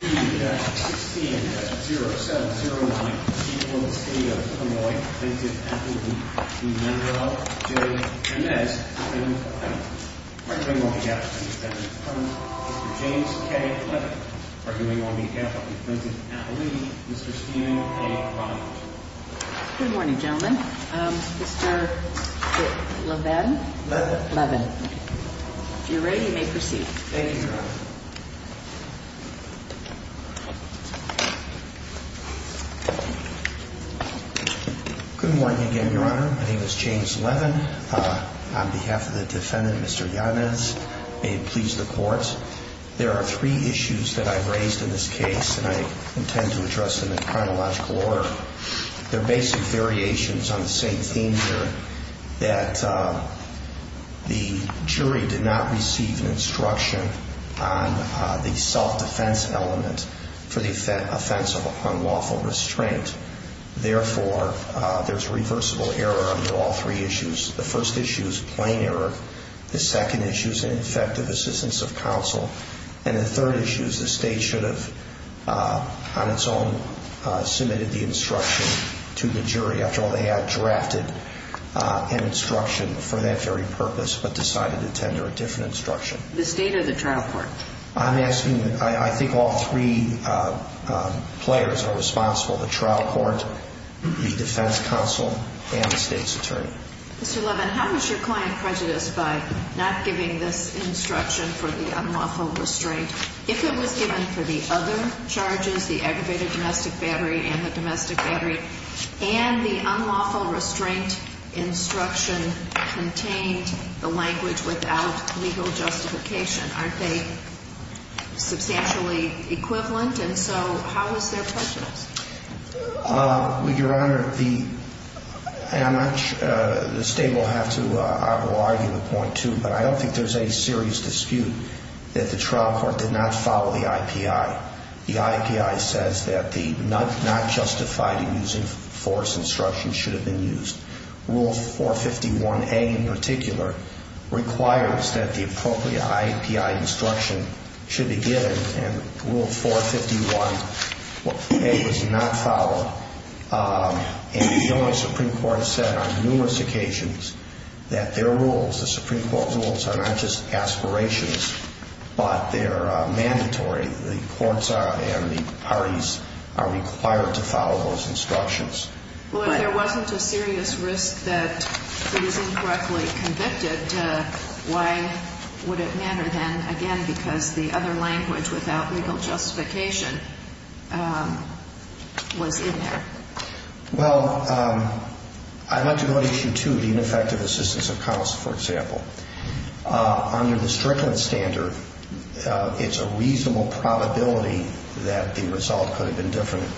16-0709, people of the state of Illinois, Plainton, Appalachia. The member of the jury, Yanez, has been acquitted. Arguing on behalf of the defendant's partner, Mr. James K. Levin. Arguing on behalf of the Plainton, Appalachia, Mr. Stephen A. Bryant. Good morning, gentlemen. Mr. Levin? Levin. If you're ready, you may proceed. Thank you, Your Honor. Good morning again, Your Honor. My name is James Levin. On behalf of the defendant, Mr. Yanez, may it please the court. There are three issues that I've raised in this case, and I intend to address them in chronological order. They're basic variations on the same theme here. That the jury did not receive an instruction on the self-defense element for the offense of unlawful restraint. Therefore, there's reversible error under all three issues. The first issue is plain error. The second issue is ineffective assistance of counsel. And the third issue is the state should have, on its own, submitted the instruction to the jury. After all, they had drafted an instruction for that very purpose, but decided to tender a different instruction. The state or the trial court? I'm asking, I think all three players are responsible, the trial court, the defense counsel, and the state's attorney. Mr. Levin, how is your client prejudiced by not giving this instruction for the unlawful restraint if it was given for the other charges, the aggravated domestic battery and the domestic battery, and the unlawful restraint instruction contained the language without legal justification? Aren't they substantially equivalent? And so, how is their prejudice? Your Honor, the state will have to, I will argue a point too, but I don't think there's any serious dispute that the trial court did not follow the IPI. The IPI says that the not justified in using force instruction should have been used. Rule 451A in particular requires that the appropriate IPI instruction should be given. And Rule 451A was not followed. And the only Supreme Court said on numerous occasions that their rules, the Supreme Court rules, are not just aspirations, but they're mandatory. The courts and the parties are required to follow those instructions. Well, if there wasn't a serious risk that he was incorrectly convicted, why would it matter then, again, because the other language without legal justification was in there? Well, I'd like to go to issue two, the ineffective assistance of counsel, for example. Under the Strickland standard, it's a reasonable probability that the result could have been different.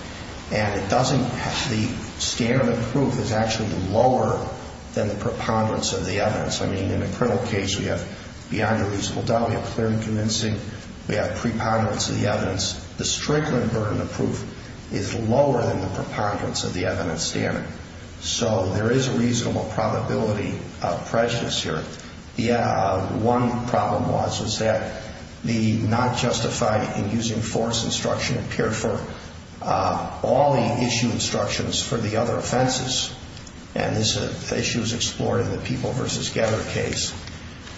And the standard of proof is actually lower than the preponderance of the evidence. I mean, in a criminal case, we have beyond a reasonable doubt, we have clear and convincing, we have preponderance of the evidence. The Strickland burden of proof is lower than the preponderance of the evidence standard, so there is a reasonable probability of prejudice here. The one problem was, was that the not justified in using force instruction appeared for all the issue instructions for the other offenses. And this issue is explored in the People v. Getter case,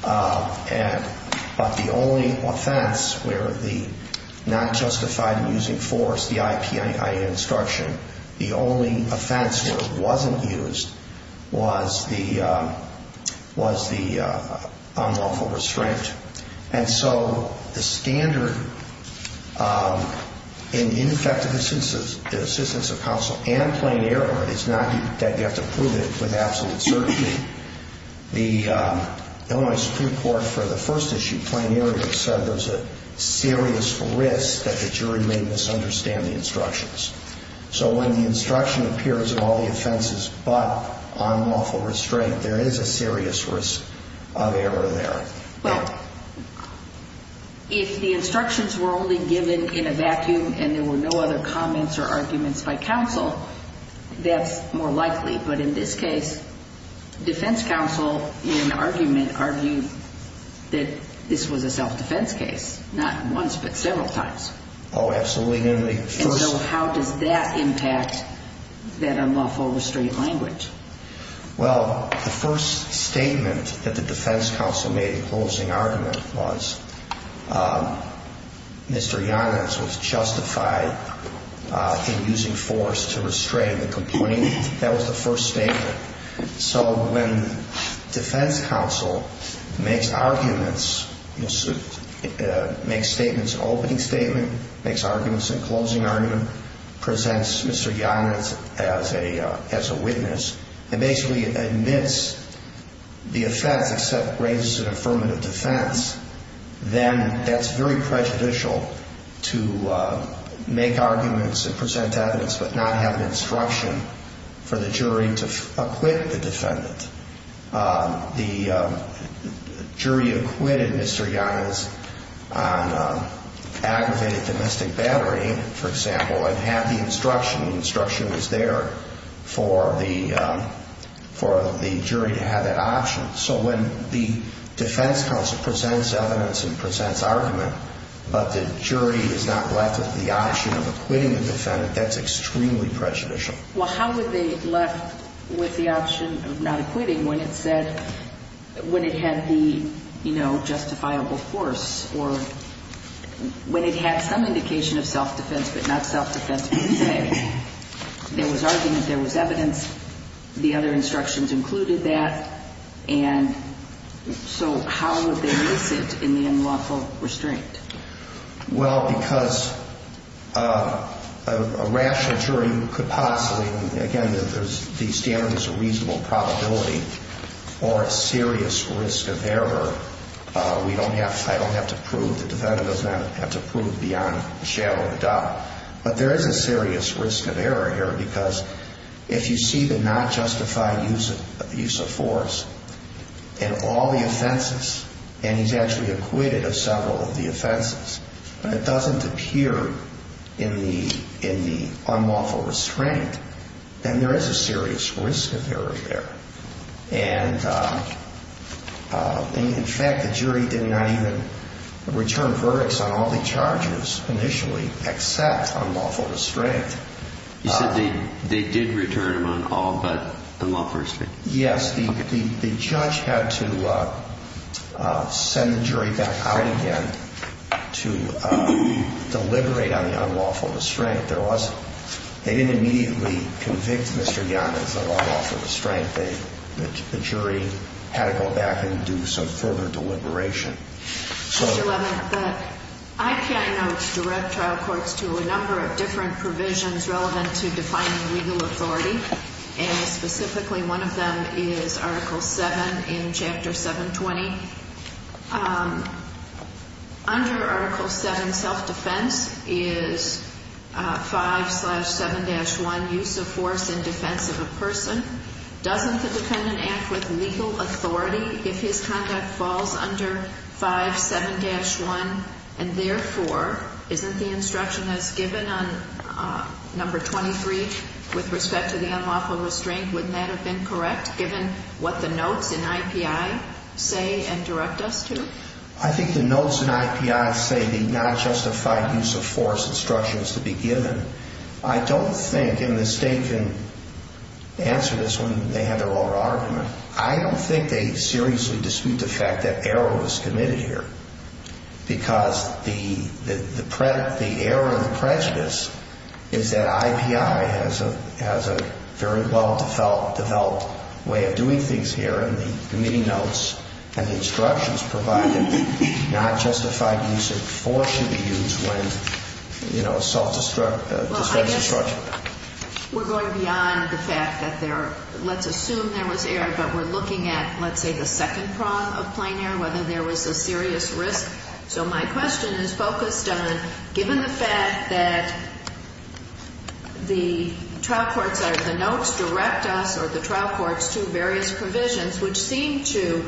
but the only offense where the not justified in using force, the IPIA instruction, the only offense where it wasn't used was the unlawful restraint. And so the standard in ineffective assistance of counsel and plain error is not that you have to prove it with absolute certainty. The Illinois Supreme Court for the first issue, plain error, said there's a serious risk that the jury may misunderstand the instructions. So when the instruction appears in all the offenses but unlawful restraint, there is a serious risk of error there. Well, if the instructions were only given in a vacuum and there were no other comments or arguments by counsel, that's more likely. But in this case, defense counsel in argument argued that this was a self-defense case, not once but several times. Absolutely. And so how does that impact that unlawful restraint language? Well, the first statement that the defense counsel made in closing argument was Mr. Yonitz was justified in using force to restrain the complainant. That was the first statement. So when defense counsel makes arguments, makes statements in opening statement, makes arguments in closing argument, presents Mr. Yonitz as a witness, and basically admits the offense except raises an affirmative defense, then that's very prejudicial to make arguments and present evidence but not have an instruction for the jury to acquit the defendant. The jury acquitted Mr. Yonitz on aggravated domestic battery, for example, and had the instruction, the instruction was there for the jury to have that option. So when the defense counsel presents evidence and presents argument, but the jury is not left with the option of acquitting the defendant, that's extremely prejudicial. Well, how were they left with the option of not acquitting when it said, when it had the justifiable force, or when it had some indication of self-defense but not self-defense per se? There was argument, there was evidence, the other instructions included that, and so how would they miss it in the unlawful restraint? Well, because a rational jury could possibly, again, the standard is a reasonable probability, or a serious risk of error. We don't have, I don't have to prove, the defendant does not have to prove beyond the shadow of a doubt. But there is a serious risk of error here, because if you see the not justified use of force in all the offenses, and he's actually acquitted of several of the offenses, but it doesn't appear in the unlawful restraint, then there is a serious risk of error there. And in fact, the jury did not even return verdicts on all the charges initially, except unlawful restraint. You said they did return them on all but the lawful restraint? Yes, the judge had to send the jury back out again to deliberate on the unlawful restraint. There was, they didn't immediately convict Mr. Young as an unlawful restraint. They, the jury had to go back and do some further deliberation. So- Mr. Levin, the IPI notes direct trial courts to a number of different provisions relevant to defining legal authority. And specifically, one of them is Article 7 in Chapter 720. Under Article 7, self-defense is 5-7-1, use of force in defense of a person. Doesn't the defendant act with legal authority if his conduct falls under 5-7-1? And therefore, isn't the instruction as given on number 23, with respect to the unlawful restraint, wouldn't that have been correct, given what the notes in IPI say and direct us to? I think the notes in IPI say the non-justified use of force instruction is to be given. I don't think, and the state can answer this when they have their own argument, I don't think they seriously dispute the fact that error was committed here. Because the error of the prejudice is that IPI has a very well-developed way of doing things here, and the committee notes and the instructions provide that the non-justified use of force should be used when, you know, self-defense is structured. We're going beyond the fact that there, let's assume there was error, but we're looking at, let's say, the second prong of plain error, whether there was a serious risk. So my question is focused on, given the fact that the trial courts or the notes direct us or the trial courts to various provisions, which seem to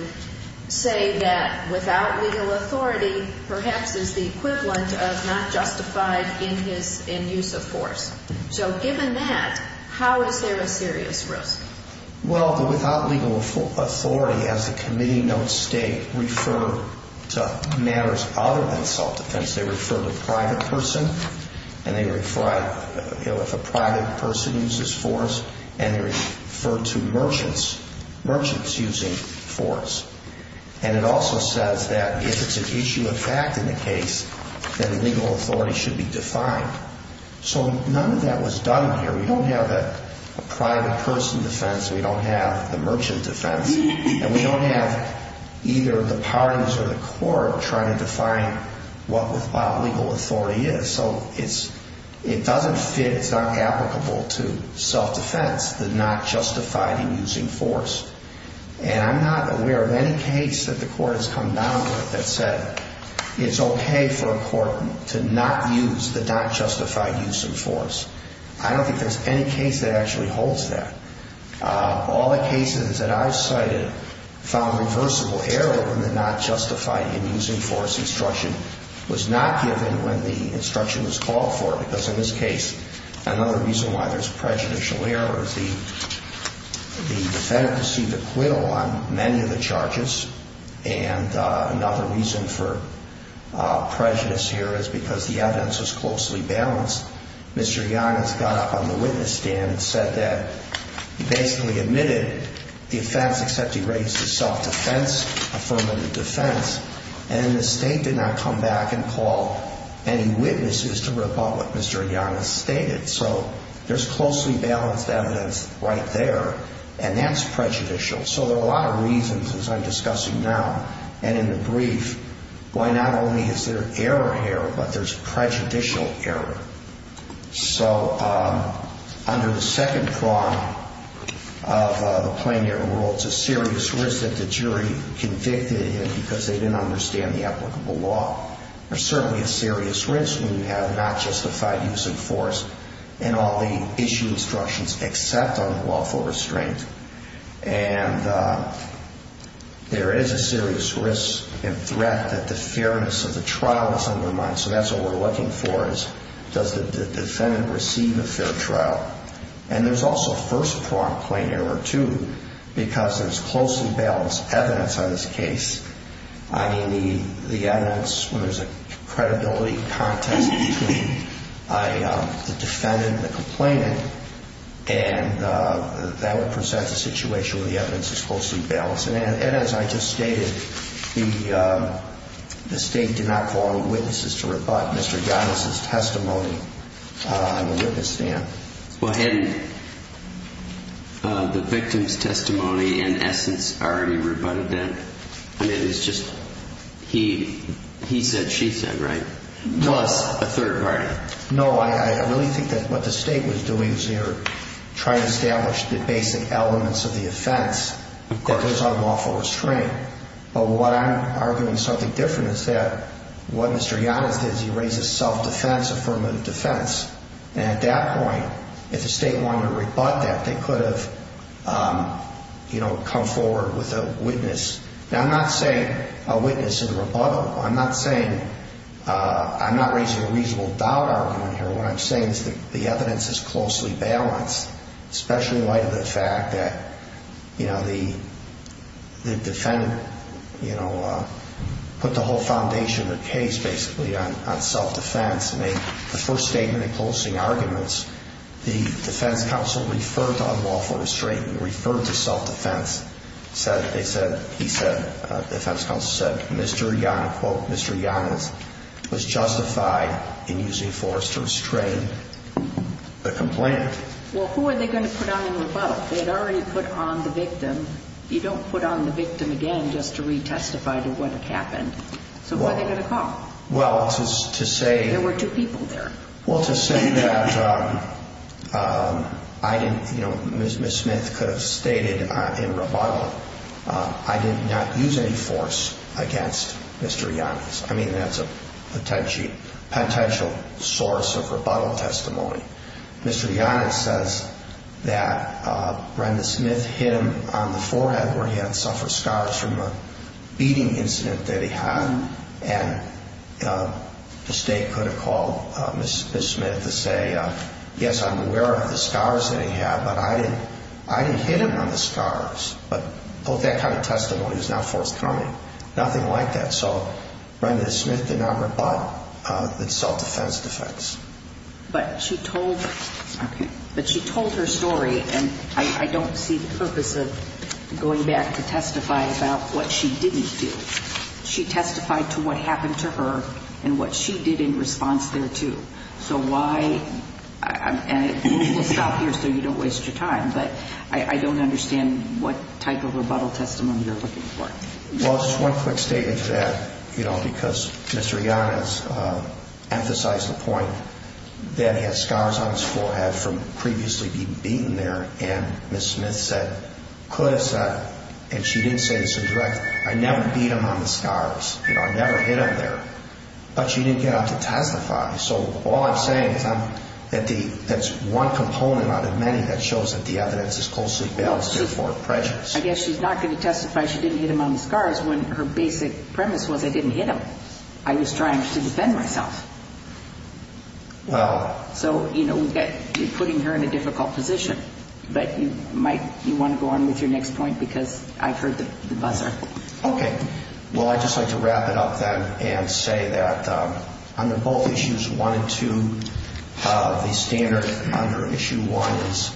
say that without legal authority perhaps is the equivalent of not justified in use of force. So given that, how is there a serious risk? Well, the without legal authority, as the committee notes, state referred to matters other than self-defense. They refer to private person, and they refer, you know, if a private person uses force, and they refer to merchants, merchants using force. And it also says that if it's an issue of fact in the case, then legal authority should be defined. So none of that was done here. We don't have a private person defense. We don't have the merchant defense. And we don't have either the parties or the court trying to define what without legal authority is. So it doesn't fit. It's not applicable to self-defense, the not justified in using force. And I'm not aware of any case that the court has come down with that said it's OK for a court to not use the not justified use of force. I don't think there's any case that actually holds that. All the cases that I've cited found reversible error in the not justified in using force instruction was not given when the instruction was called for. Because in this case, another reason why there's prejudicial error is the defendant received acquittal on many of the charges. And another reason for prejudice here is because the evidence was closely balanced. Mr. Giannis got up on the witness stand and said that he basically admitted the offense, except he raised his self-defense, affirmative defense. And the state did not come back and call any witnesses to rip up what Mr. Giannis stated. So there's closely balanced evidence right there. And that's prejudicial. So there are a lot of reasons, as I'm discussing now and in the brief, why not only is there error here, but there's prejudicial error. So under the second prong of the plaintiff rule, it's a serious risk that the jury convicted him because they didn't understand the applicable law. There's certainly a serious risk when you have not justified use of force in all the issue instructions, except on the lawful restraint. And there is a serious risk and threat that the fairness of the trial is on their mind. So that's what we're looking for is, does the defendant receive a fair trial? And there's also first prong plain error, too, because there's closely balanced evidence on this case. I mean, the evidence, when there's a credibility contest between the defendant and the complainant, and that would present a situation where the evidence is closely balanced. And as I just stated, the state did not call on witnesses to rebut Mr. Giannis' testimony on the witness stand. Well, hadn't the victim's testimony, in essence, already rebutted that? I mean, it was just he said, she said, right, plus a third party. No, I really think that what the state was doing was they were trying to establish the basic elements of the offense that goes on the lawful restraint. But what I'm arguing is something different is that what Mr. Giannis did is he raised a self-defense affirmative defense. And at that point, if the state wanted to rebut that, they could have come forward with a witness. Now, I'm not saying a witness in rebuttal. I'm not saying, I'm not raising a reasonable doubt around here. What I'm saying is that the evidence is closely balanced, especially in light of the fact that the defendant put the whole foundation of the case, basically, on self-defense, made the first statement in closing arguments. The defense counsel referred to unlawful restraint, referred to self-defense. They said, he said, the defense counsel said, Mr. Giannis, quote, Mr. Giannis was justified in using force to restrain the complaint. Well, who are they going to put on in rebuttal? They had already put on the victim. You don't put on the victim again just to re-testify to what happened. So who are they going to call? Well, to say- There were two people there. Well, to say that Ms. Smith could have stated in rebuttal, I did not use any force against Mr. Giannis. I mean, that's a potential source of rebuttal testimony. Mr. Giannis says that Brenda Smith hit him on the forehead where he had suffered scars from a beating incident that he had. And the state could have called Ms. Smith to say, yes, I'm aware of the scars that he had, but I didn't hit him on the scars. But that kind of testimony is not forthcoming. Nothing like that. So Brenda Smith did not rebut the self-defense defects. But she told her story, and I don't see the purpose of going back to testify about what she didn't do. She testified to what happened to her and what she did in response thereto. So why, and we'll stop here so you don't waste your time, but I don't understand what type of rebuttal testimony you're looking for. Well, just one quick statement to that, because Mr. Giannis emphasized the point that he had scars on his forehead from previously being there. And Ms. Smith said, could have said, and she didn't say this in direct, I never beat him on the scars, you know, I never hit him there. But she didn't get up to testify. So all I'm saying is that's one component out of many that shows that the evidence is closely based to afford prejudice. I guess she's not going to testify she didn't hit him on the scars when her basic premise was I didn't hit him. I was trying to defend myself. Well. So, you know, you're putting her in a difficult position. But you might, you want to go on with your next point because I heard the buzzer. Okay. Well, I'd just like to wrap it up then and say that under both issues one and two, the standard under issue one is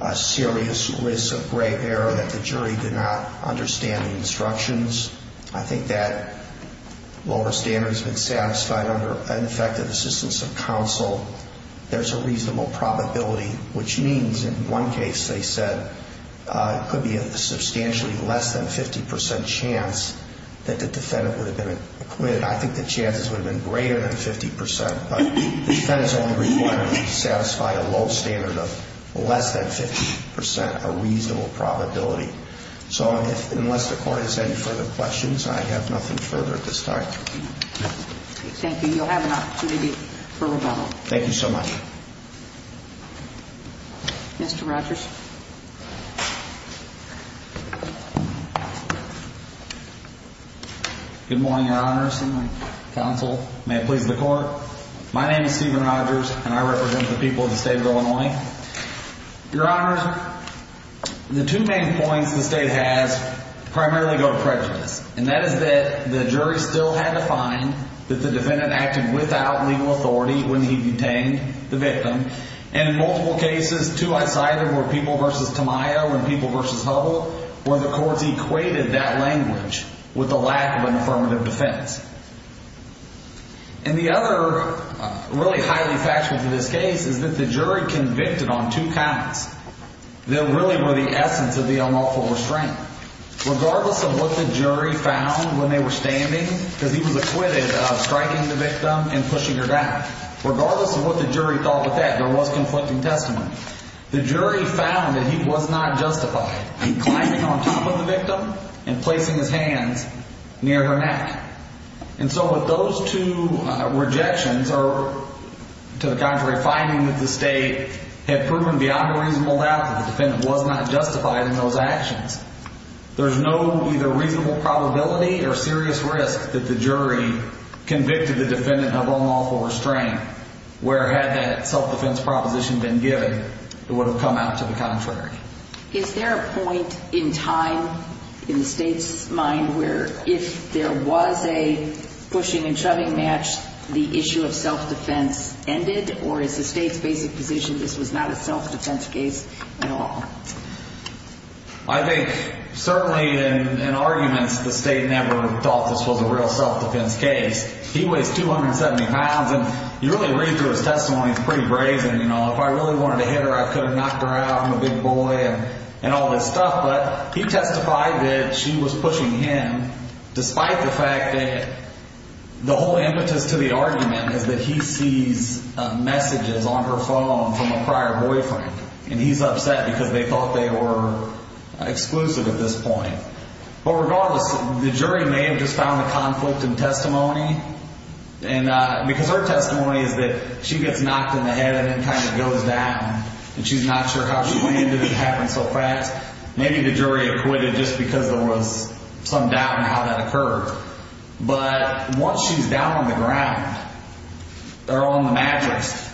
a serious risk of grave error that the jury did not understand the instructions. I think that lower standard has been satisfied under an effective assistance of counsel. There's a reasonable probability, which means in one case, they said it could be a substantially less than 50% chance that the defendant would have been acquitted. I think the chances would have been greater than 50%. But the defendant's only requirement is to satisfy a low standard of less than 50%, a reasonable probability. So unless the court has any further questions, I have nothing further at this time. Thank you. You'll have an opportunity for rebuttal. Thank you so much. Mr. Rogers. Good morning, Your Honor, assembly, counsel, may it please the court. My name is Steven Rogers and I represent the people of the state of Illinois. Your Honor, the two main points the state has primarily go to prejudice. And that is that the jury still had to find that the defendant acted without legal authority when he detained the victim. And in multiple cases, two I cited were people versus Tamayo and people versus Hubble, where the courts equated that language with the lack of an affirmative defense. And the other really highly factual to this case is that the jury convicted on two counts that really were the essence of the unlawful restraint. Regardless of what the jury found when they were standing, because he was acquitted of striking the victim and pushing her down. Regardless of what the jury thought of that, there was conflicting testimony. The jury found that he was not justified in climbing on top of the victim and placing his hands near her neck. And so with those two rejections, or to the contrary, finding that the state had proven beyond a reasonable doubt that the defendant was not justified in those actions. There's no either reasonable probability or serious risk that the jury convicted the defendant of unlawful restraint where had that self-defense proposition been given, it would have come out to the contrary. Is there a point in time, in the state's mind, where if there was a pushing and shoving match, the issue of self-defense ended? Or is the state's basic position this was not a self-defense case at all? I think certainly in arguments, the state never thought this was a real self-defense case. He weighs 270 pounds and you really read through his testimony, it's pretty brazen. If I really wanted to hit her, I could have knocked her out, I'm a big boy and all this stuff. But he testified that she was pushing him despite the fact that the whole impetus to the argument is that he sees messages on her phone from a prior boyfriend. And he's upset because they thought they were exclusive at this point. But regardless, the jury may have just found a conflict in testimony. And because her testimony is that she gets knocked in the head and then kind of goes down. And she's not sure how she landed, it happened so fast. Maybe the jury acquitted just because there was some doubt in how that occurred. But once she's down on the ground, or on the mattress,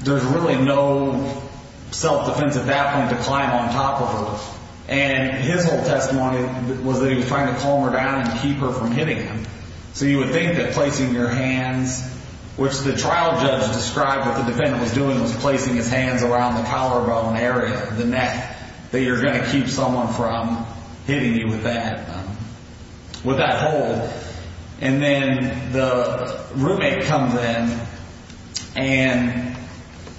there's really no self-defense at that point to climb on top of her. And his whole testimony was that he was trying to calm her down and keep her from hitting him. So you would think that placing your hands, which the trial judge described what the defendant was doing was placing his hands around the collarbone area, the neck, that you're gonna keep someone from hitting you with that hold. And then the roommate comes in and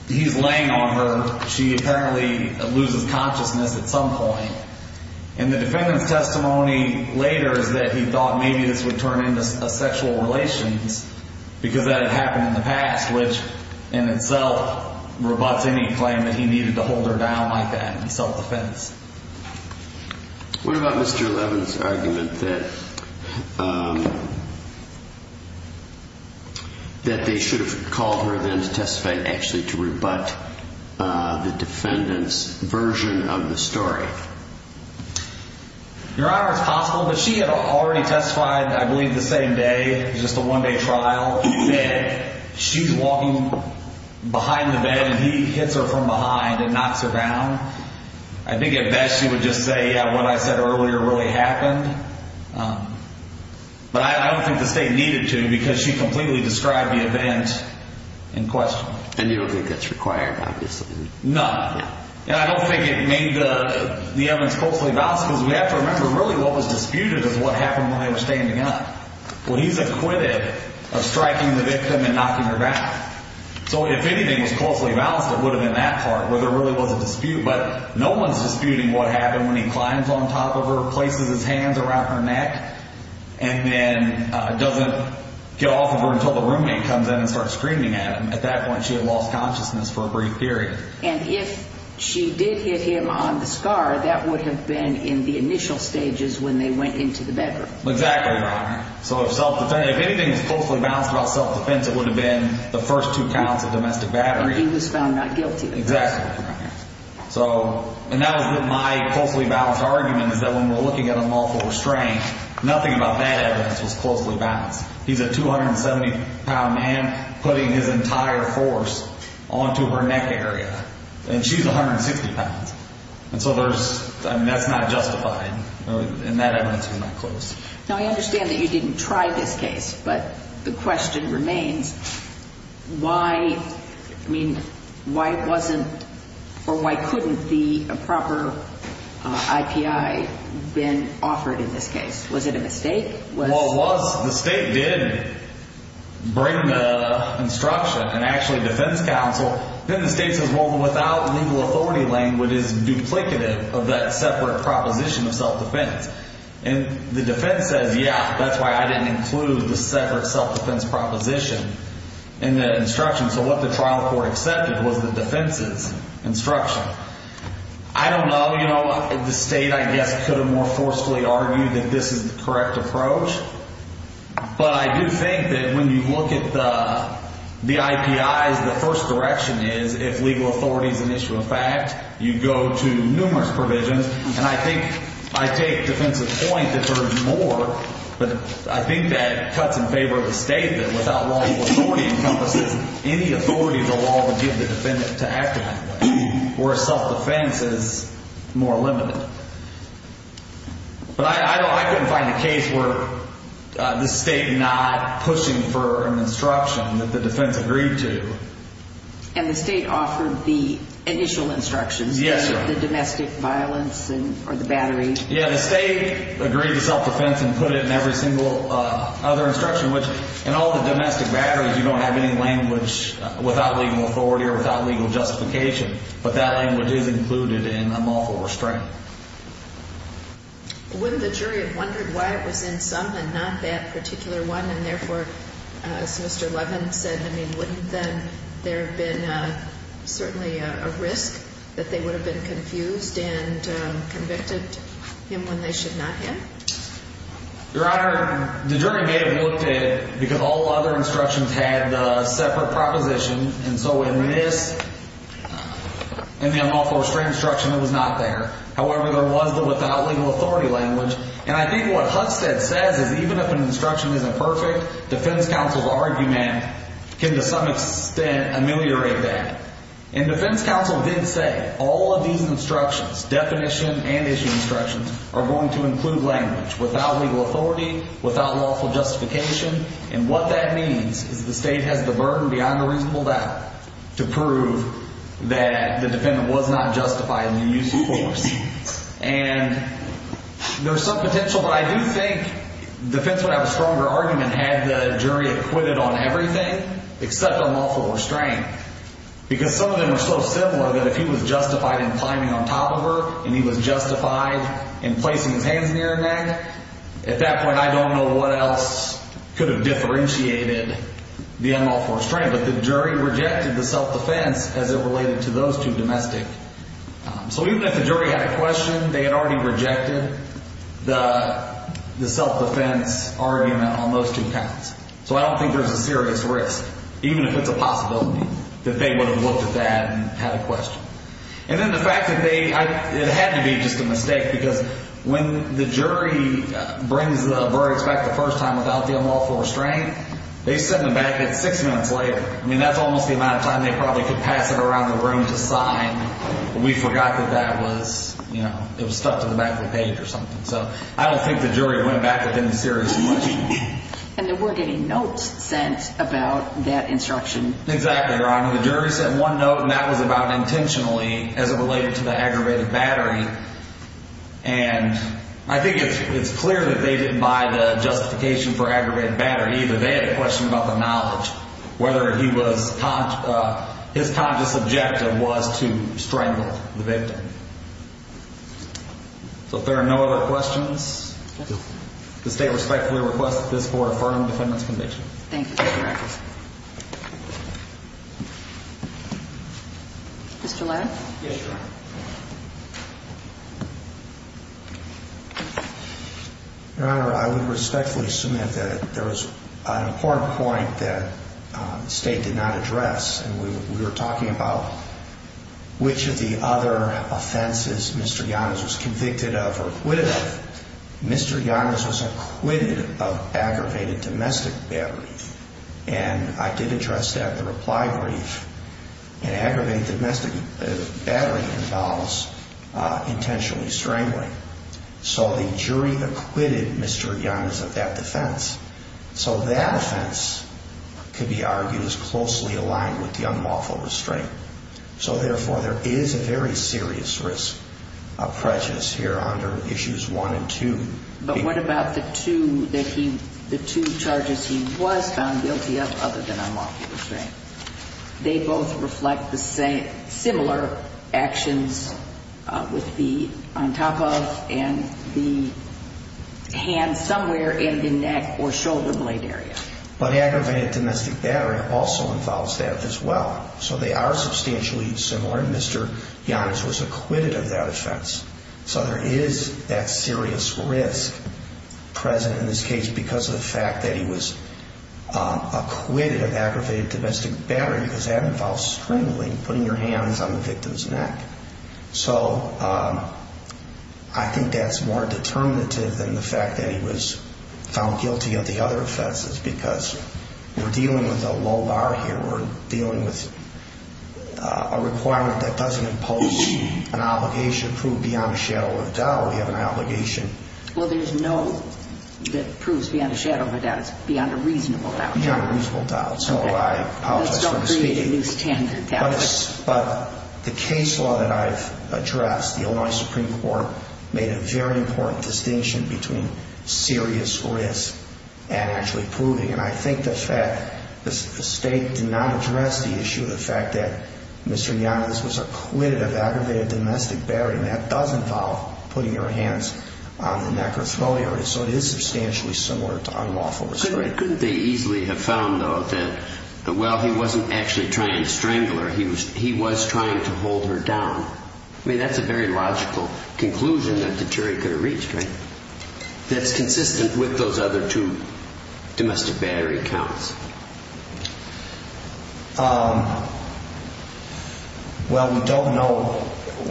he's laying on her. She apparently loses consciousness at some point. And the defendant's testimony later is that he thought maybe this would turn into sexual relations because that had happened in the past, which in itself rebuts any claim that he needed to hold her down like that in self-defense. What about Mr. Levin's argument that they should have called her then to testify, actually to rebut the defendant's version of the story? Your Honor, it's possible, but she had already testified, I believe, the same day. Just a one-day trial. She's walking behind the bed and he hits her from behind and knocks her down. I think at best she would just say, yeah, what I said earlier really happened. But I don't think the state needed to because she completely described the event in question. And you don't think that's required, obviously? None. I don't think it made the evidence closely balanced because we have to remember really what was disputed is what happened when they were standing up. Well, he's acquitted of striking the victim and knocking her down. So if anything was closely balanced, it would have been that part, where there really was a dispute. But no one's disputing what happened when he climbs on top of her, places his hands around her neck, and then doesn't get off of her until the roommate comes in and starts screaming at him. At that point, she had lost consciousness for a brief period. And if she did hit him on the scar, that would have been in the initial stages when they went into the bedroom. Exactly, Your Honor. So if anything was closely balanced about self-defense, it would have been the first two counts of domestic battery. And he was found not guilty. Exactly, Your Honor. So, and that was my closely balanced argument, is that when we're looking at a multiple restraint, nothing about that evidence was closely balanced. He's a 270-pound man putting his entire force onto her neck area. And she's 160 pounds. And so there's, I mean, that's not justified. And that evidence was not close. Now, I understand that you didn't try this case. But the question remains, why, I mean, why wasn't, or why couldn't the proper IPI been offered in this case? Was it a mistake? Well, it was. The state did bring the instruction, and actually defense counsel. Then the state says, well, without legal authority language, it's duplicative of that separate proposition of self-defense. And the defense says, yeah, that's why I didn't include the separate self-defense proposition in that instruction. So what the trial court accepted was the defense's instruction. I don't know, you know, the state, I guess, could have more forcefully argued that this is the correct approach. But I do think that when you look at the IPIs, the first direction is, if legal authority is an issue of fact, you go to numerous provisions. And I think, I take defensive point that there is more. But I think that cuts in favor of the state that without legal authority encompasses any authority the law would give the defendant to act in that way. Where self-defense is more limited. But I couldn't find a case where the state not pushing for an instruction that the defense agreed to. And the state offered the initial instructions? Yes, ma'am. The domestic violence or the battery? Yeah, the state agreed to self-defense and put it in every single other instruction. In all the domestic batteries, you don't have any language without legal authority or without legal justification. But that language is included in lawful restraint. Wouldn't the jury have wondered why it was in some and not that particular one? And therefore, as Mr. Levin said, wouldn't then there have been certainly a risk that they would have been confused and convicted him when they should not have? Your Honor, the jury may have looked at it because all other instructions had a separate proposition. And so in this, in the unlawful restraint instruction, it was not there. However, there was the without legal authority language. And I think what Husted says is even if an instruction isn't perfect, defense counsel's argument can to some extent ameliorate that. And defense counsel did say all of these instructions, definition and issue instructions, are going to include language without legal authority, without lawful justification. And what that means is the state has the burden beyond a reasonable doubt to prove that the defendant was not justified in the use of force. And there's some potential, but I do think defense would have a stronger argument had the jury acquitted on everything except on lawful restraint. Because some of them are so similar that if he was justified in climbing on top of her and he was justified in placing his hands near her neck, at that point I don't know what else could have differentiated the unlawful restraint. But the jury rejected the self-defense as it related to those two domestic. So even if the jury had a question, they had already rejected the self-defense argument on those two counts. So I don't think there's a serious risk, even if it's a possibility, that they would have looked at that and had a question. And then the fact that they, it had to be just a mistake because when the jury brings the verdicts back the first time without the unlawful restraint, they send them back at six minutes later. I mean, that's almost the amount of time they probably could pass it around the room to sign. We forgot that that was, you know, it was stuck to the back of the page or something. So I don't think the jury went back with any serious question. And there were getting notes sent about that instruction. Exactly, Your Honor. The jury sent one note and that was about intentionally, as it related to the aggravated battery. And I think it's clear that they didn't buy the justification for aggravated battery either. They had a question about the knowledge, whether he was, his conscious objective was to strangle the victim. So if there are no other questions, the State respectfully requests that this Court affirm the defendant's conviction. Thank you, Mr. Rackers. Mr. Ladd? Yes, Your Honor. Your Honor, I would respectfully submit that there was an important point that the State did not address. And we were talking about which of the other offenses Mr. Giannis was convicted of or acquitted of. Mr. Giannis was acquitted of aggravated domestic battery. And I did address that in the reply brief. And aggravated domestic battery involves intentionally strangling. So the jury acquitted Mr. Giannis of that defense. So that offense could be argued as closely aligned with the unlawful restraint. So therefore, there is a very serious risk of prejudice here under Issues 1 and 2. But what about the two charges he was found guilty of other than unlawful restraint? They both reflect similar actions with the on top of and the hand somewhere in the neck or shoulder blade area. But aggravated domestic battery also involves that as well. So they are substantially similar. And Mr. Giannis was acquitted of that offense. So there is that serious risk present in this case because of the fact that he was acquitted of aggravated domestic battery. Because that involves strangling, putting your hands on the victim's neck. So I think that's more determinative than the fact that he was found guilty of the other offenses. Because we're dealing with a low bar here. We're dealing with a requirement that doesn't impose an obligation to prove beyond a shadow of a doubt. We have an obligation. Well, there's no that proves beyond a shadow of a doubt. It's beyond a reasonable doubt. Beyond a reasonable doubt. So I apologize for the speaking. Don't create a new standard. But the case law that I've addressed, the Illinois Supreme Court, made a very important distinction between serious risk and actually proving. And I think the fact that the state did not address the issue of the fact that Mr. Giannis was acquitted of aggravated domestic battery. That does involve putting your hands on the neck or throat area. So it is substantially similar to unlawful restraint. Couldn't they easily have found, though, that while he wasn't actually trying to strangle her, he was trying to hold her down? I mean, that's a very logical conclusion that the jury could have reached, right? That's consistent with those other two domestic battery counts. Well, we don't know.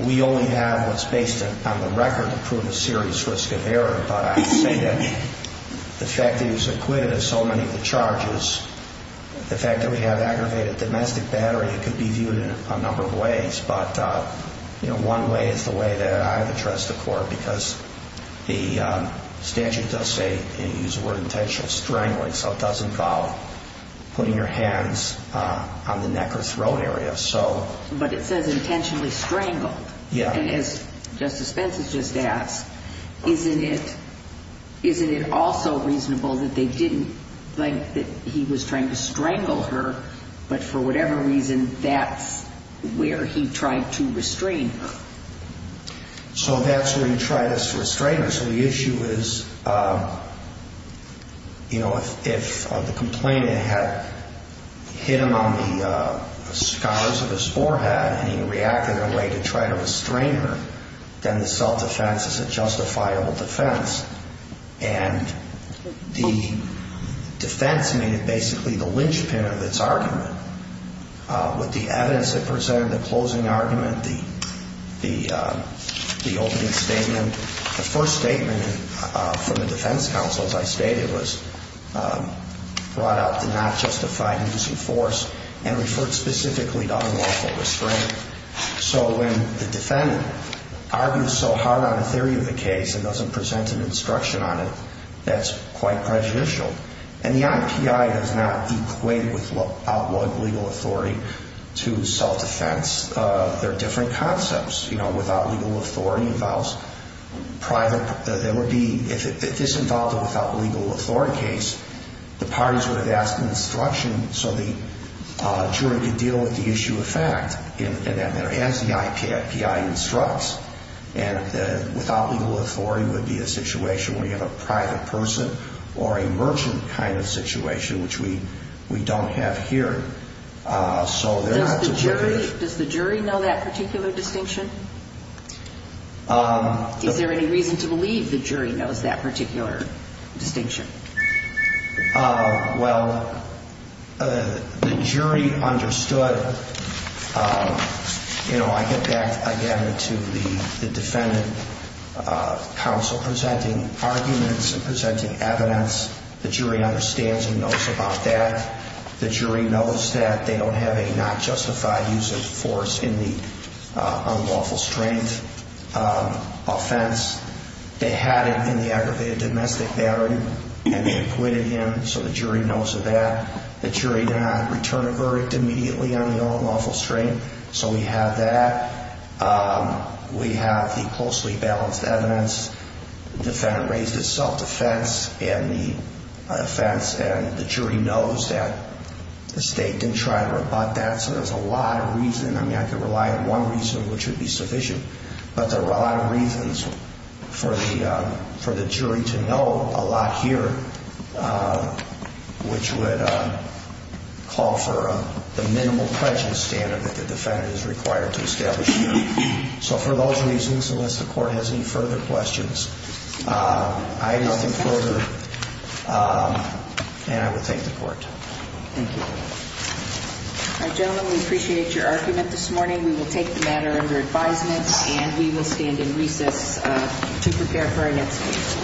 We only have what's based on the record to prove a serious risk of error. But I would say that the fact that he was acquitted of so many of the charges, the fact that we have aggravated domestic battery, it could be viewed in a number of ways. But, you know, one way is the way that I have addressed the court. Because the statute does say, and you use the word intentional, strangling, so it doesn't involve putting your hands on the neck or throat area. But it says intentionally strangled. Yeah. And as Justice Pence has just asked, isn't it also reasonable that they didn't think that he was trying to strangle her, but for whatever reason that's where he tried to restrain her? So that's where he tried to restrain her. The actual issue is, you know, if the complainant had hit him on the scars of his forehead and he reacted in a way to try to restrain her, then the self-defense is a justifiable defense. And the defense made it basically the linchpin of its argument. With the evidence it presented, the closing argument, the opening statement, the first statement from the defense counsel, as I stated, was brought out to not justify using force and referred specifically to unlawful restraint. So when the defendant argues so hard on a theory of the case and doesn't present an instruction on it, that's quite prejudicial. And the IPI does not equate with outlawed legal authority to self-defense. They're different concepts. Without legal authority involves private... If this involved a without legal authority case, the parties would have asked an instruction so the jury could deal with the issue of fact as the IPI instructs. And without legal authority would be a situation where you have a private person or a merchant kind of situation, which we don't have here. Does the jury know that particular distinction? Is there any reason to believe the jury knows that particular distinction? Well, the jury understood... You know, I get back again to the defendant counsel presenting arguments and presenting evidence. The jury understands and knows about that. The jury knows that they don't have a justified use of force in the unlawful strength offense. They had it in the aggravated domestic battery and they acquitted him so the jury knows of that. The jury did not return a verdict immediately on the unlawful strength so we have that. We have the closely balanced evidence. The defendant raised his self-defense in the offense and the jury knows that the state didn't try to rebut that so there's a lot of reason. I mean, I could rely on one reason which would be sufficient but there are a lot of reasons for the jury to know a lot here which would call for the minimal prejudice standard that the defendant is required to establish here. So for those reasons, unless the court has any further questions, I have nothing further and I would thank the court. Thank you. Gentlemen, we appreciate your argument this morning. We will take the matter under advisement and we will stand in recess to prepare for our next case.